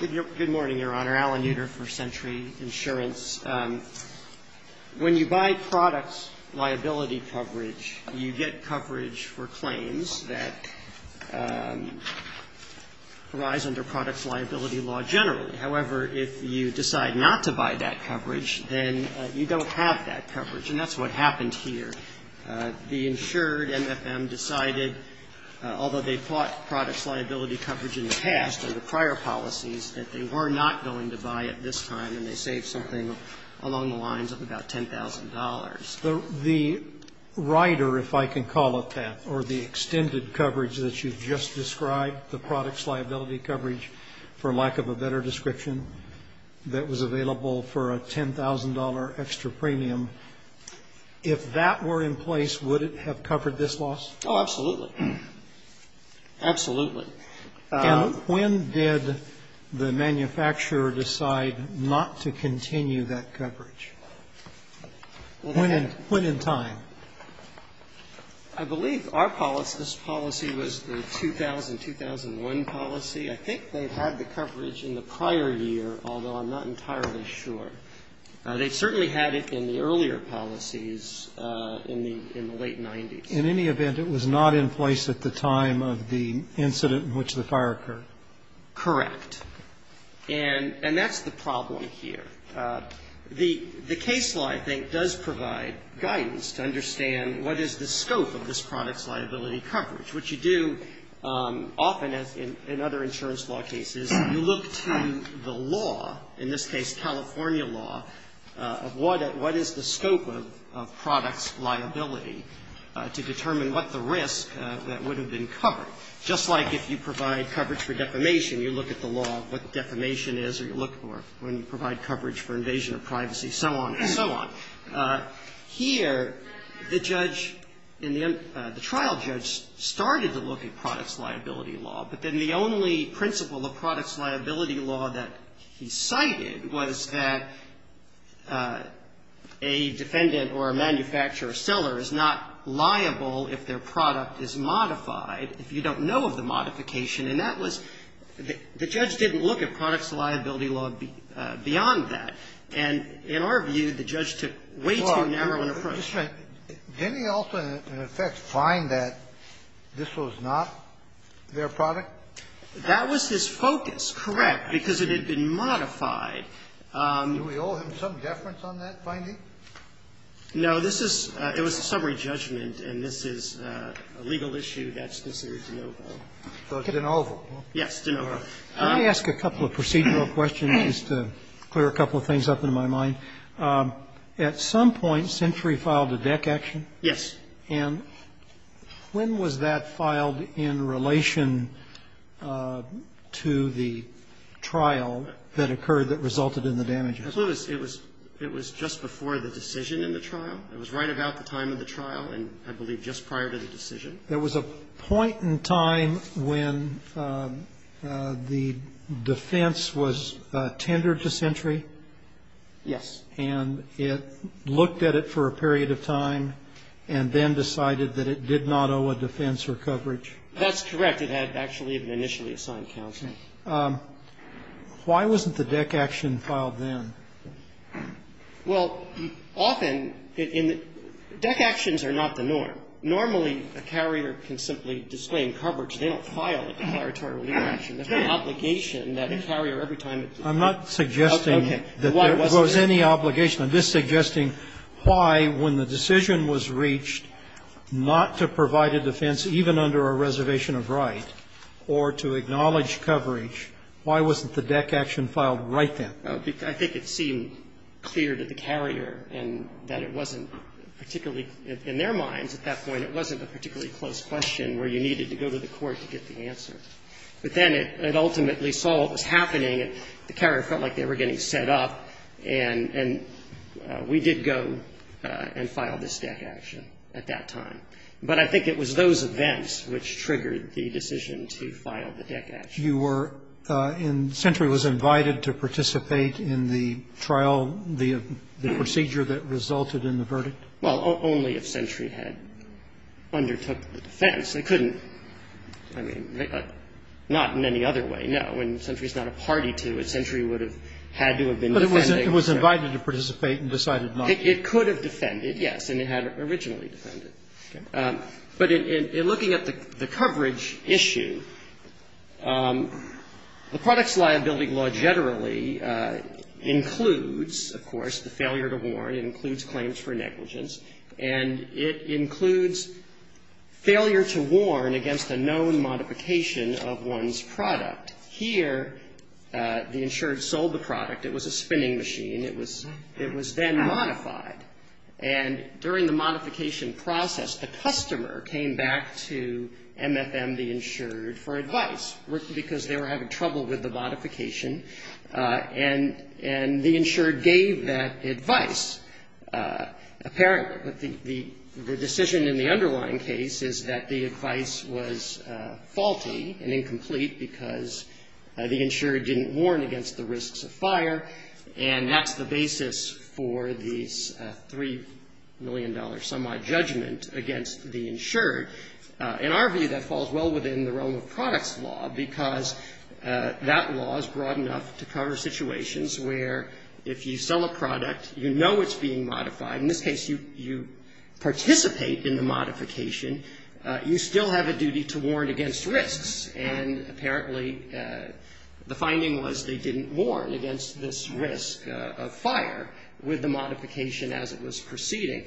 Good morning, Your Honor. Alan Nader, First Century Insurance. When you buy products liability coverage, you get coverage for claims that arise under products liability law generally. However, if you decide not to buy that coverage, then you don't have that coverage, and that's what happened here. The insured, MFM, decided, although they bought products liability coverage in the past or the prior policies, that they were not going to buy it this time, and they saved something along the lines of about $10,000. The rider, if I can call it that, or the extended coverage that you've just described, the products liability coverage, for lack of a better description, that was available for a $10,000 extra premium, if that were in place, would it have covered this loss? Oh, absolutely. Absolutely. And when did the manufacturer decide not to continue that coverage? When in time? I believe our policy, this policy was the 2000-2001 policy. I think they had the coverage in the prior year, although I'm not entirely sure. They certainly had it in the earlier policies in the late 90s. In any event, it was not in place at the time of the incident in which the fire occurred. Correct. And that's the problem here. The case law, I think, does provide guidance to understand what is the scope of this products liability coverage. What you do often in other insurance law cases, you look to the law, in this case California law, of what is the scope of products liability to determine what the risk that would have been covered. Just like if you provide coverage for defamation, you look at the law of what defamation is, or you look for when you provide coverage for invasion of privacy, so on and so on. Here, the judge, the trial judge started to look at products liability law, but then the only principle of products liability law that he cited was that a defendant or a manufacturer or seller is not liable if their product is modified, if you don't know of the modification. And that was the judge didn't look at products liability law beyond that. And in our view, the judge took way too narrow an approach. Kennedy also, in effect, find that this was not their product? That was his focus, correct, because it had been modified. Do we owe him some deference on that finding? No. This is the summary judgment, and this is a legal issue that's considered de novo. De novo. Yes, de novo. Let me ask a couple of procedural questions just to clear a couple of things up in my mind. First of all, when was the trial to deck action? Yes. And when was that filed in relation to the trial that occurred that resulted in the damage? It was just before the decision in the trial. It was right about the time of the trial, and I believe just prior to the decision. There was a point in time when the defense was tendered to Sentry? Yes. And it looked at it for a period of time and then decided that it did not owe a defense or coverage? That's correct. It had actually an initially assigned counsel. Why wasn't the deck action filed then? Well, often, deck actions are not the norm. Normally, a carrier can simply disclaim coverage. They don't file a declaratory relief action. That's an obligation that a carrier, every time it does that. I'm not suggesting that there was any obligation. I'm just suggesting why, when the decision was reached not to provide a defense even under a reservation of right, or to acknowledge coverage, why wasn't the deck action filed right then? I think it seemed clear to the carrier that it wasn't particularly, in their minds at that point, it wasn't a particularly close question where you needed to go to the court to get the answer. But then it ultimately saw what was happening. The carrier felt like they were getting set up. And we did go and file this deck action at that time. But I think it was those events which triggered the decision to file the deck action. You were and Sentry was invited to participate in the trial, the procedure that resulted in the verdict? Well, only if Sentry had undertook the defense. They couldn't. I mean, not in any other way, no. And Sentry is not a party to it. Sentry would have had to have been defending. But it was invited to participate and decided not to. It could have defended, yes. And it had originally defended. Okay. But in looking at the coverage issue, the products liability law generally includes, of course, the failure to warn. It includes claims for negligence. And it includes failure to warn against a known modification of one's product. Here, the insured sold the product. It was a spinning machine. It was then modified. And during the modification process, the customer came back to MFM, the insured, for advice, because they were having trouble with the modification. And the insured gave that advice. Apparently. But the decision in the underlying case is that the advice was faulty and incomplete because the insured didn't warn against the risks of fire. And that's the basis for this $3 million semi-judgment against the insured. In our view, that falls well within the realm of products law, because that law is broad enough to cover situations where if you sell a product, you know it's being modified. In this case, you participate in the modification. You still have a duty to warn against risks. And apparently, the finding was they didn't warn against this risk of fire with the modification as it was proceeding.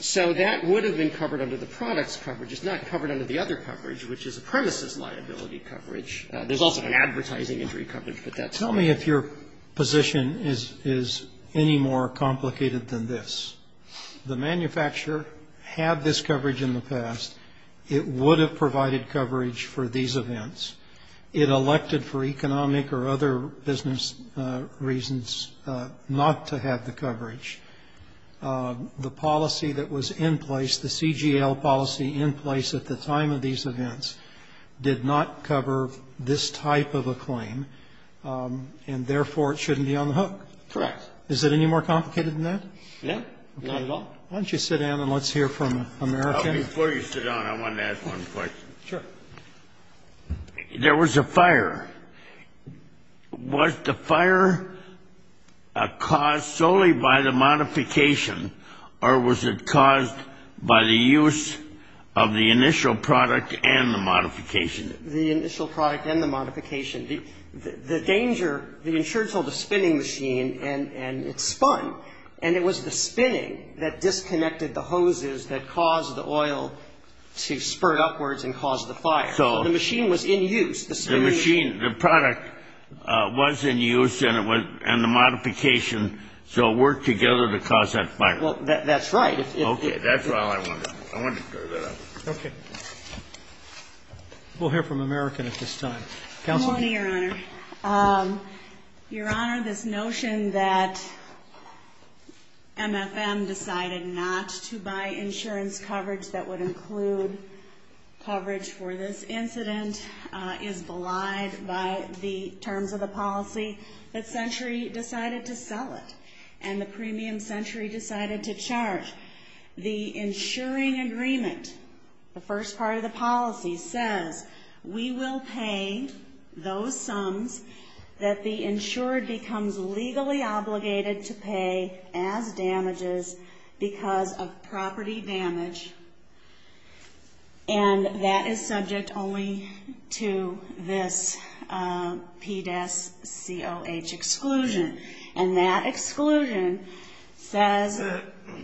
So that would have been covered under the products coverage. It's not covered under the other coverage, which is a premises liability coverage. There's also an advertising injury coverage, but that's not covered. Tell me if your position is any more complicated than this. The manufacturer had this coverage in the past. It would have provided coverage for these events. It elected for economic or other business reasons not to have the coverage. The policy that was in place, the CGL policy in place at the time of these events did not cover this type of a claim, and therefore, it shouldn't be on the hook. Correct. Is it any more complicated than that? No, not at all. Why don't you sit down, and let's hear from American. Before you sit down, I want to ask one question. Sure. There was a fire. Was the fire caused solely by the modification, or was it caused by the use of the initial product and the modification? The initial product and the modification. The danger, the insurance held a spinning machine, and it spun, and it was the spinning that disconnected the hoses that caused the oil to spurt upwards and cause the fire. So the machine was in use. The spinning machine. The product was in use, and the modification, so it worked together to cause that fire. Well, that's right. Okay. That's all I wanted to know. I wanted to clear that up. Okay. We'll hear from American at this time. Counsel? Good morning, Your Honor. Your Honor, this notion that MFM decided not to buy insurance coverage that would include coverage for this incident is belied by the terms of the policy that Century decided to sell it, and the premium Century decided to charge. The insuring agreement, the first part of the policy, says we will pay those sums that the insured becomes legally obligated to pay as damages because of property damage, and that is subject only to this PDES COH exclusion. And that exclusion says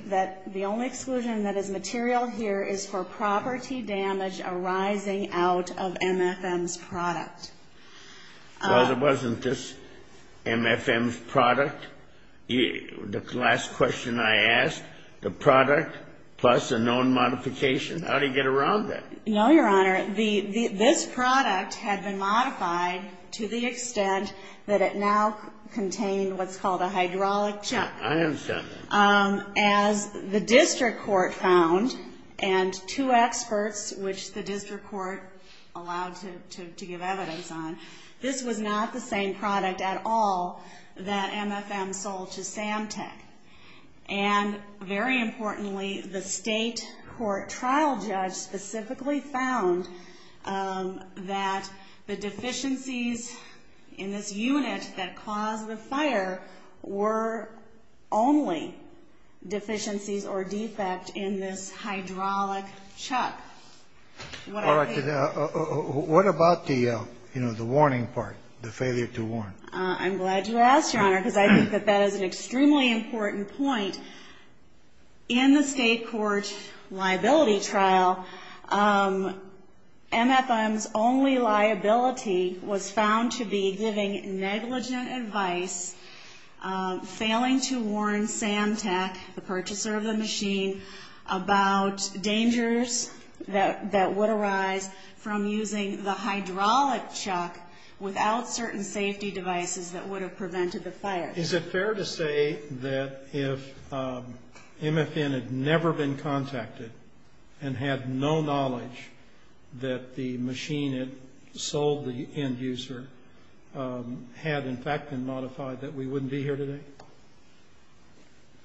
that the only exclusion that is material here is for property damage arising out of MFM's product. Well, it wasn't just MFM's product. The last question I asked, the product plus a known modification, how do you get around that? No, Your Honor. This product had been modified to the extent that it now contained what's called a hydraulic chuck. I understand that. As the district court found, and two experts, which the district court allowed to give evidence on, this was not the same product at all that MFM sold to Samtech. And very importantly, the state court trial judge specifically found that the deficiencies in this unit that caused the fire were only deficiencies or defect in this hydraulic chuck. What about the, you know, the warning part, the failure to warn? I'm glad you asked, Your Honor, because I think that that is an extremely important point. In the state court liability trial, MFM's only liability was found to be giving negligent advice, failing to warn Samtech, the purchaser of the machine, about dangers that would arise from using the hydraulic chuck without certain safety devices that would have prevented the fire. Is it fair to say that if MFM had never been contacted and had no knowledge that the machine that sold the end user had, in fact, been modified, that we wouldn't be here today?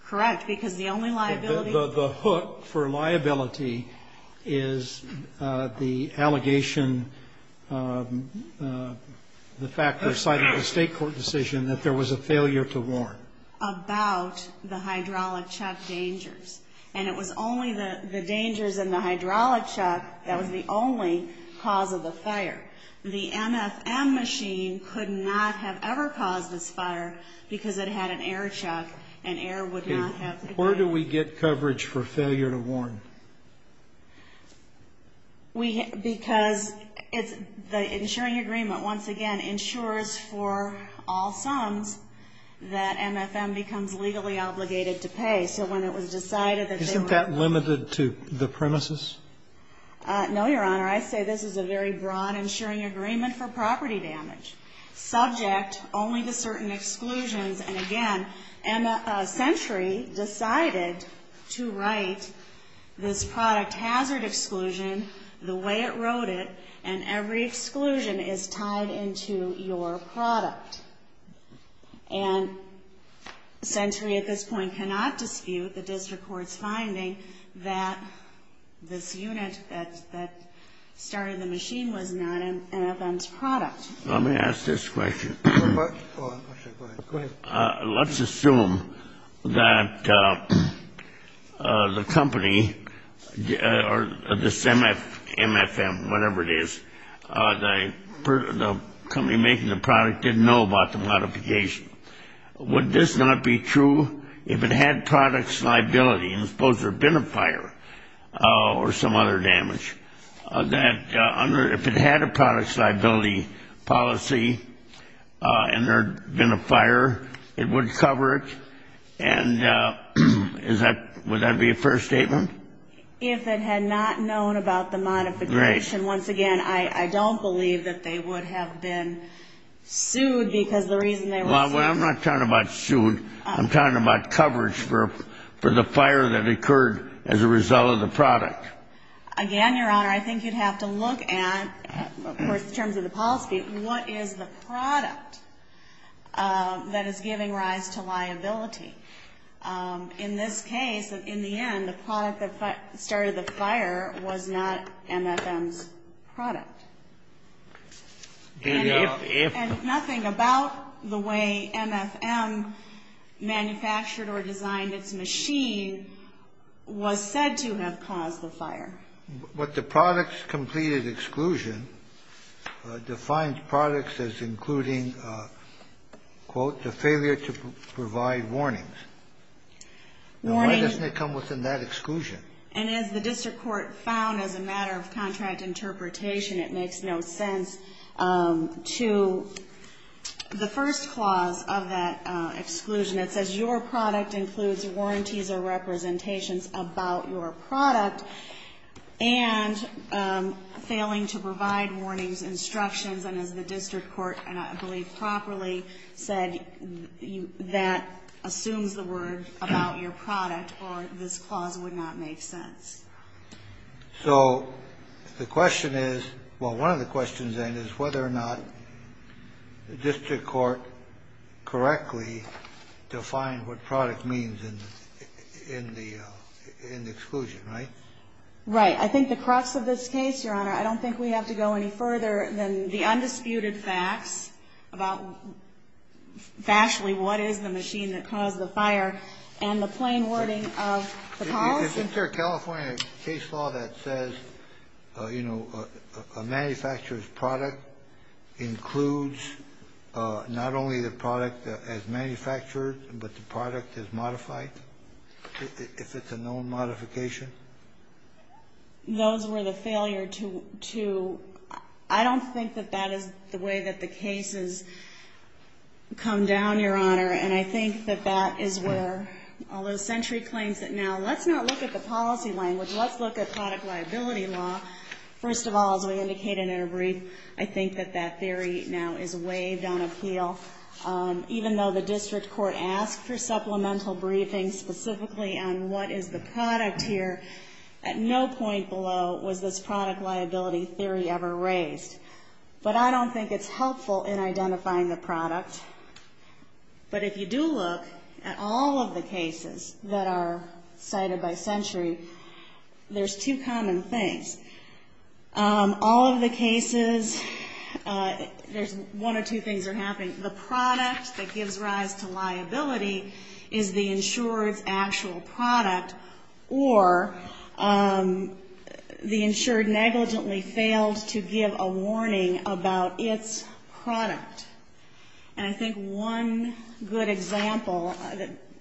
Correct, because the only liability... The hook for liability is the allegation, the fact that cited the state court decision that there was a failure to warn. About the hydraulic chuck dangers. And it was only the dangers in the hydraulic chuck that was the only cause of the fire. The MFM machine could not have ever caused this fire because it had an air chuck and air would not have... Where do we get coverage for failure to warn? Because the insuring agreement, once again, insures for all sums that MFM becomes legally obligated to pay. So when it was decided that... Isn't that limited to the premises? No, Your Honor. I say this is a very broad insuring agreement for property damage, subject only to certain exclusions. And again, Century decided to write this product hazard exclusion the way it wrote it, and every exclusion is tied into your product. And Century, at this point, cannot dispute the district court's finding that this unit that started the machine was not an MFM's product. Let me ask this question. Go ahead. Let's assume that the company, or this MFM, whatever it is, the company making the product didn't know about the modification. Would this not be true if it had products liability, and suppose there had been a fire or some other damage, that if it had a products liability policy and there had been a fire, it would cover it? And would that be a fair statement? If it had not known about the modification, once again, I don't believe that they would have been sued because the reason they were sued... Well, I'm not talking about sued. I'm talking about coverage for the fire that occurred as a result of the product. Again, Your Honor, I think you'd have to look at, of course, in terms of the policy, what is the product that is giving rise to liability? In this case, in the end, the product that started the fire was not MFM's product. And nothing about the way MFM manufactured or designed its machine was said to have caused the fire. But the products completed exclusion defines products as including, quote, the failure to provide warnings. Now, why doesn't it come within that exclusion? And as the district court found as a matter of contract interpretation, it makes no sense to the first clause of that exclusion. It says your product includes warranties or representations about your product and failing to provide warnings, instructions. And as the district court, and I believe properly, said, that assumes the word about your product or this clause would not make sense. So the question is, well, one of the questions then is whether or not the district court correctly defined what product means in the exclusion, right? Right. I think the crux of this case, Your Honor, I don't think we have to go any further than the undisputed facts about actually what is the machine that caused the fire and the plain wording of the policy. Isn't there a California case law that says, you know, a manufacturer's product includes not only the product as manufactured, but the product is modified if it's a known modification? Those were the failure to, I don't think that that is the way that the cases come down, Your Honor. And I think that that is where all those century claims that now let's not look at the policy language, let's look at product liability law. First of all, as we indicated in our brief, I think that that theory now is waived on appeal. Even though the district court asked for supplemental briefings specifically on what is the product here, at no point below was this product liability theory ever raised. But I don't think it's helpful in identifying the product. But if you do look at all of the cases that are cited by Century, there's two common things. All of the cases, there's one or two things that are happening. The product that gives rise to liability is the insured's actual product, or the insured negligently failed to give a warning about its product. And I think one good example,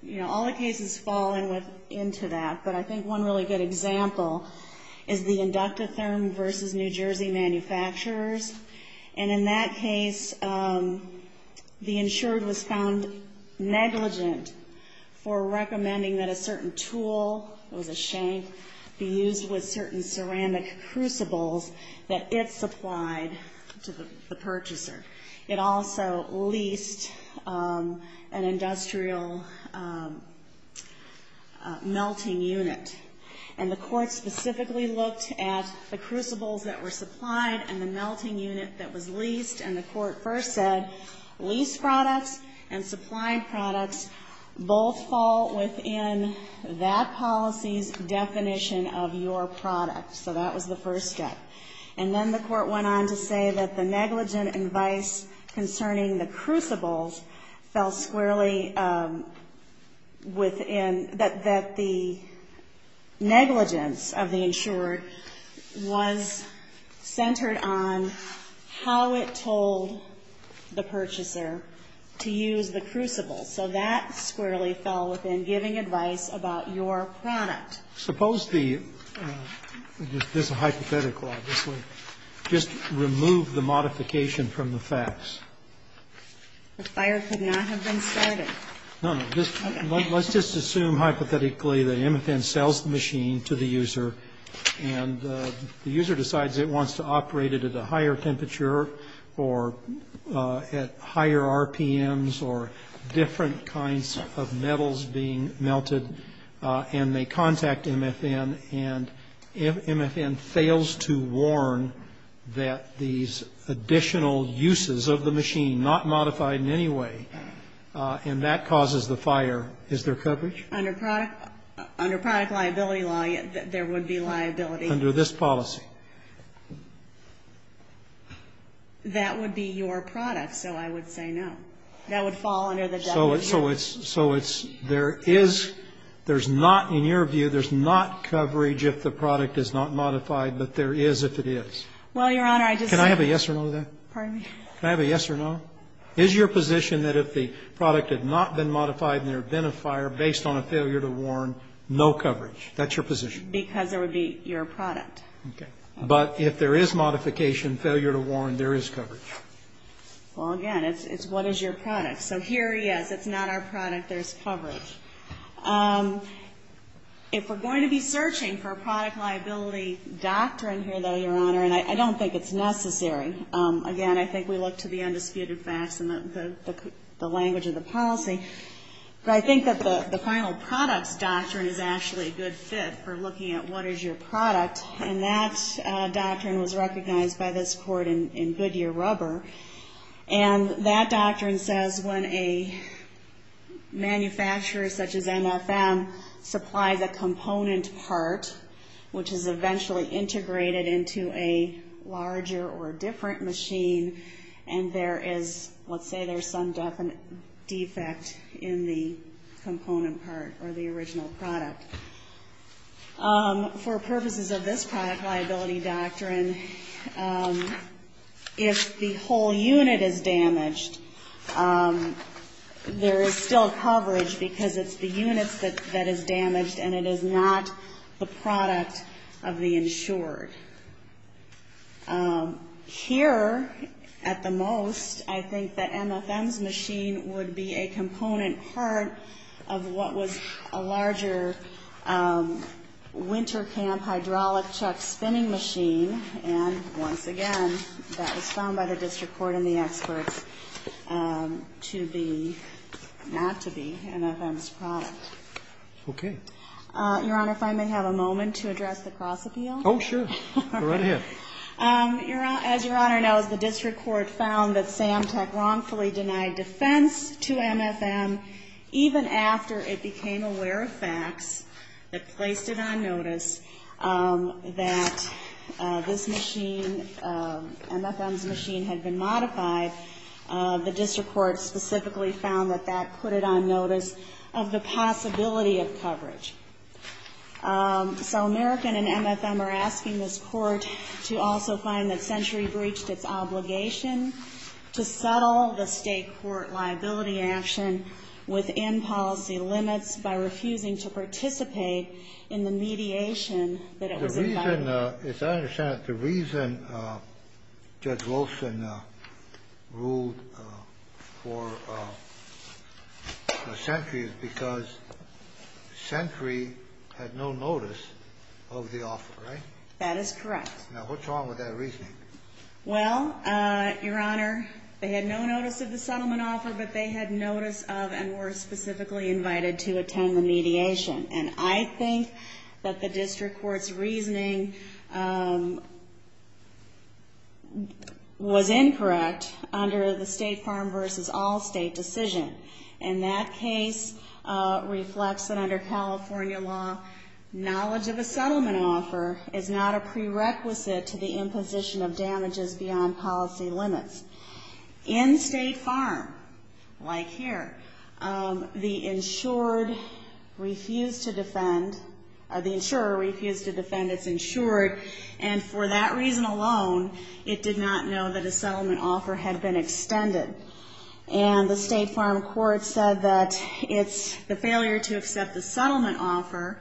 you know, all the cases fall into that, but I think one really good example is the Inducta Therm versus New Jersey manufacturers. And in that case, the insured was found negligent for recommending that a certain tool, it was a shank, be used with certain ceramic crucibles that it supplied to the purchaser. It also leased an industrial melting unit. And the court specifically looked at the crucibles that were supplied and the melting unit that was leased, and the court first said lease products and supply products both fall within that policy's definition of your product. So that was the first step. And then the court went on to say that the negligent advice concerning the crucibles fell squarely within that the negligence of the insured was centered on how it told the purchaser to use the crucibles. So that squarely fell within giving advice about your product. Suppose the ñ this is hypothetical, obviously. Just remove the modification from the facts. But fire could not have been started. No, no. Let's just assume hypothetically that MFN sells the machine to the user, and the user decides it wants to operate it at a higher temperature or at higher RPMs or different kinds of metals being melted. And they contact MFN, and MFN fails to warn that these additional uses of the machine, not modified in any way, and that causes the fire. Is there coverage? Under product liability law, there would be liability. Under this policy. That would be your product, so I would say no. That would fall under the definition. So it's ñ so it's ñ there is ñ there's not ñ in your view, there's not coverage if the product is not modified, but there is if it is. Well, Your Honor, I just said ñ Can I have a yes or no to that? Pardon me? Can I have a yes or no? Is your position that if the product had not been modified and there had been a fire based on a failure to warn, no coverage? That's your position? Because it would be your product. Okay. But if there is modification, failure to warn, there is coverage. Well, again, it's what is your product. So here, yes, it's not our product. There's coverage. If we're going to be searching for a product liability doctrine here, though, Your Honor, and I don't think it's necessary. Again, I think we look to the undisputed facts and the language of the policy. But I think that the final products doctrine is actually a good fit for looking at what is your product, and that doctrine was recognized by this Court in Goodyear and that doctrine says when a manufacturer such as MFM supplies a component part, which is eventually integrated into a larger or different machine, and there is, let's say there's some defect in the component part or the original product. For purposes of this product liability doctrine, if the whole unit is damaged, there is still coverage because it's the units that is damaged and it is not the product of the insured. Here, at the most, I think that MFM's machine would be a component part of what was a larger winter camp hydraulic chuck spinning machine, and once again, that was found by the district court and the experts to be, not to be, MFM's product. Okay. Your Honor, if I may have a moment to address the cross-appeal? Oh, sure. Go right ahead. As Your Honor knows, the district court found that Sam Tech wrongfully denied defense to MFM even after it became aware of facts that placed it on notice that this machine, MFM's machine, had been modified. The district court specifically found that that put it on notice of the possibility of coverage. So American and MFM are asking this Court to also find that Century breached its obligation to settle the state court liability action within policy limits by refusing to participate in the mediation that it was invited to. As I understand it, the reason Judge Wilson ruled for Century is because Century had no notice of the offer, right? That is correct. Now, what's wrong with that reasoning? Well, Your Honor, they had no notice of the settlement offer, but they had notice of and were specifically invited to attend the mediation. And I think that the district court's reasoning was incorrect under the state farm versus all state decision. And that case reflects that under California law, knowledge of a settlement offer is not a prerequisite to the imposition of damages beyond policy limits. In state farm, like here, the insured refused to defend, the insurer refused to defend its insured, and for that reason alone it did not know that a settlement offer had been extended. And the state farm court said that the failure to accept the settlement offer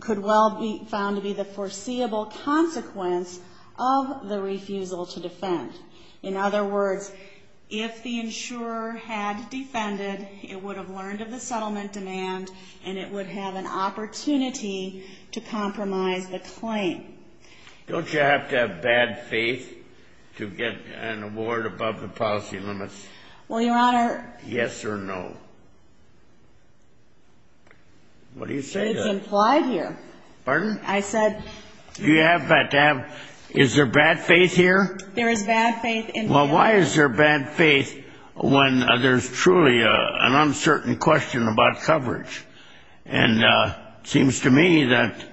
could well be found to be the foreseeable consequence of the refusal to defend. In other words, if the insurer had defended, it would have learned of the settlement demand, and it would have an opportunity to compromise the claim. Don't you have to have bad faith to get an award above the policy limits? Well, Your Honor. Yes or no? What do you say to that? It's implied here. Pardon? I said. Do you have to have, is there bad faith here? There is bad faith. Well, why is there bad faith when there's truly an uncertain question about coverage? And it seems to me that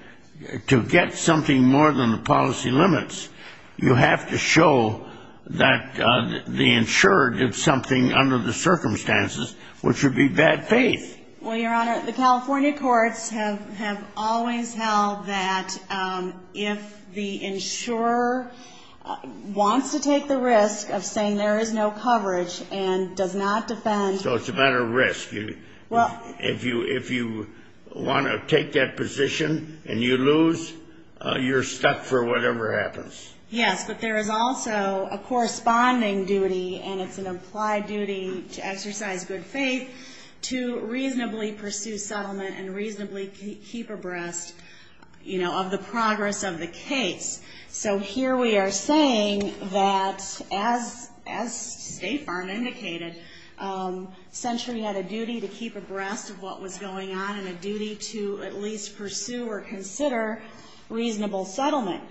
to get something more than the policy limits, you have to show that the insurer did something under the circumstances, which would be bad faith. Well, Your Honor, the California courts have always held that if the insurer wants to take the risk of saying there is no coverage and does not defend. So it's a matter of risk. If you want to take that position and you lose, you're stuck for whatever happens. Yes, but there is also a corresponding duty, and it's an implied duty to exercise good faith to reasonably pursue settlement and reasonably keep abreast of the progress of the case. So here we are saying that, as State Farm indicated, Century had a duty to keep abreast of what was going on and a duty to at least pursue or consider reasonable settlement.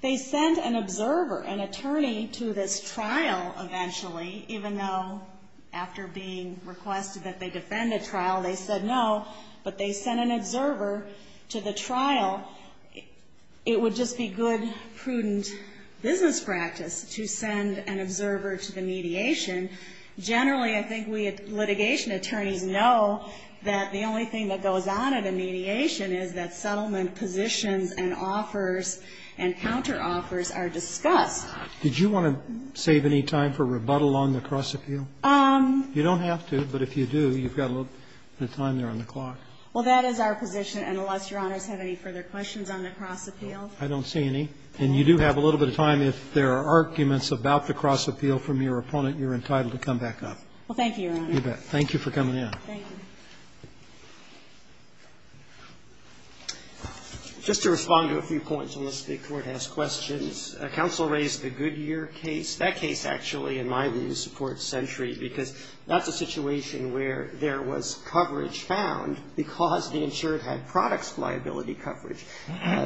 They sent an observer, an attorney, to this trial eventually, even though after being requested that they defend the trial, they said no. But they sent an observer to the trial. It would just be good, prudent business practice to send an observer to the mediation. Generally, I think we litigation attorneys know that the only thing that goes on at a mediation is that settlement positions and offers and counteroffers are discussed. Did you want to save any time for rebuttal on the cross-appeal? You don't have to, but if you do, you've got a little bit of time there on the clock. Well, that is our position. And unless Your Honors have any further questions on the cross-appeal. I don't see any. And you do have a little bit of time. If there are arguments about the cross-appeal from your opponent, you're entitled to come back up. Well, thank you, Your Honor. You bet. Thank you for coming in. Thank you. Just to respond to a few points, unless the Court has questions, counsel raised the Goodyear case. That case actually, in my view, supports Sentry because that's a situation where there was coverage found because the insured had products liability coverage.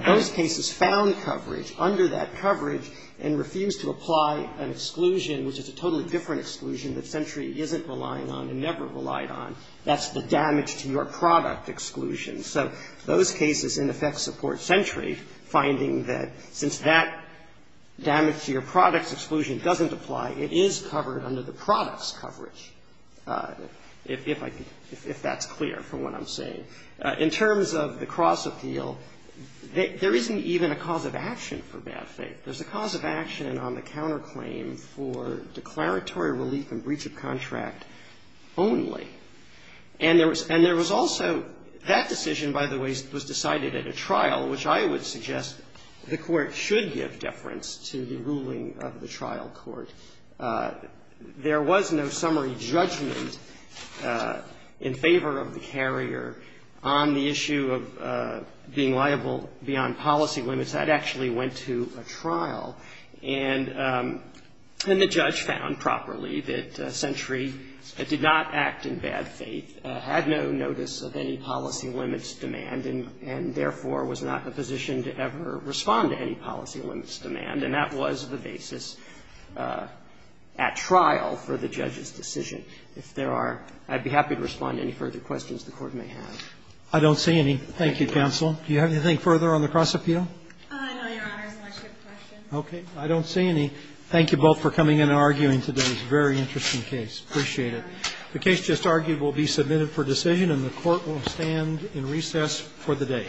Those cases found coverage under that coverage and refused to apply an exclusion, which is a totally different exclusion that Sentry isn't relying on and never relied on. That's the damage to your product exclusion. So those cases, in effect, support Sentry, finding that since that damage to your product's exclusion doesn't apply, it is covered under the product's coverage, if I can – if that's clear from what I'm saying. In terms of the cross-appeal, there isn't even a cause of action for bad faith. There's a cause of action on the counterclaim for declaratory relief and breach of contract only. And there was also – that decision, by the way, was decided at a trial, which I would suggest the Court should give deference to the ruling of the trial court. There was no summary judgment in favor of the carrier on the issue of being liable beyond policy limits. That actually went to a trial, and the judge found properly that Sentry did not act in bad faith, had no notice of any policy limits demand, and therefore was not in a position to ever respond to any policy limits demand. And that was the basis at trial for the judge's decision. If there are – I'd be happy to respond to any further questions the Court may have. Roberts. I don't see any. Thank you, counsel. Do you have anything further on the cross-appeal? I know, Your Honor, it's a much good question. Okay. I don't see any. Thank you both for coming in and arguing today. It's a very interesting case. Appreciate it. The case just argued will be submitted for decision, and the Court will stand in recess for the day.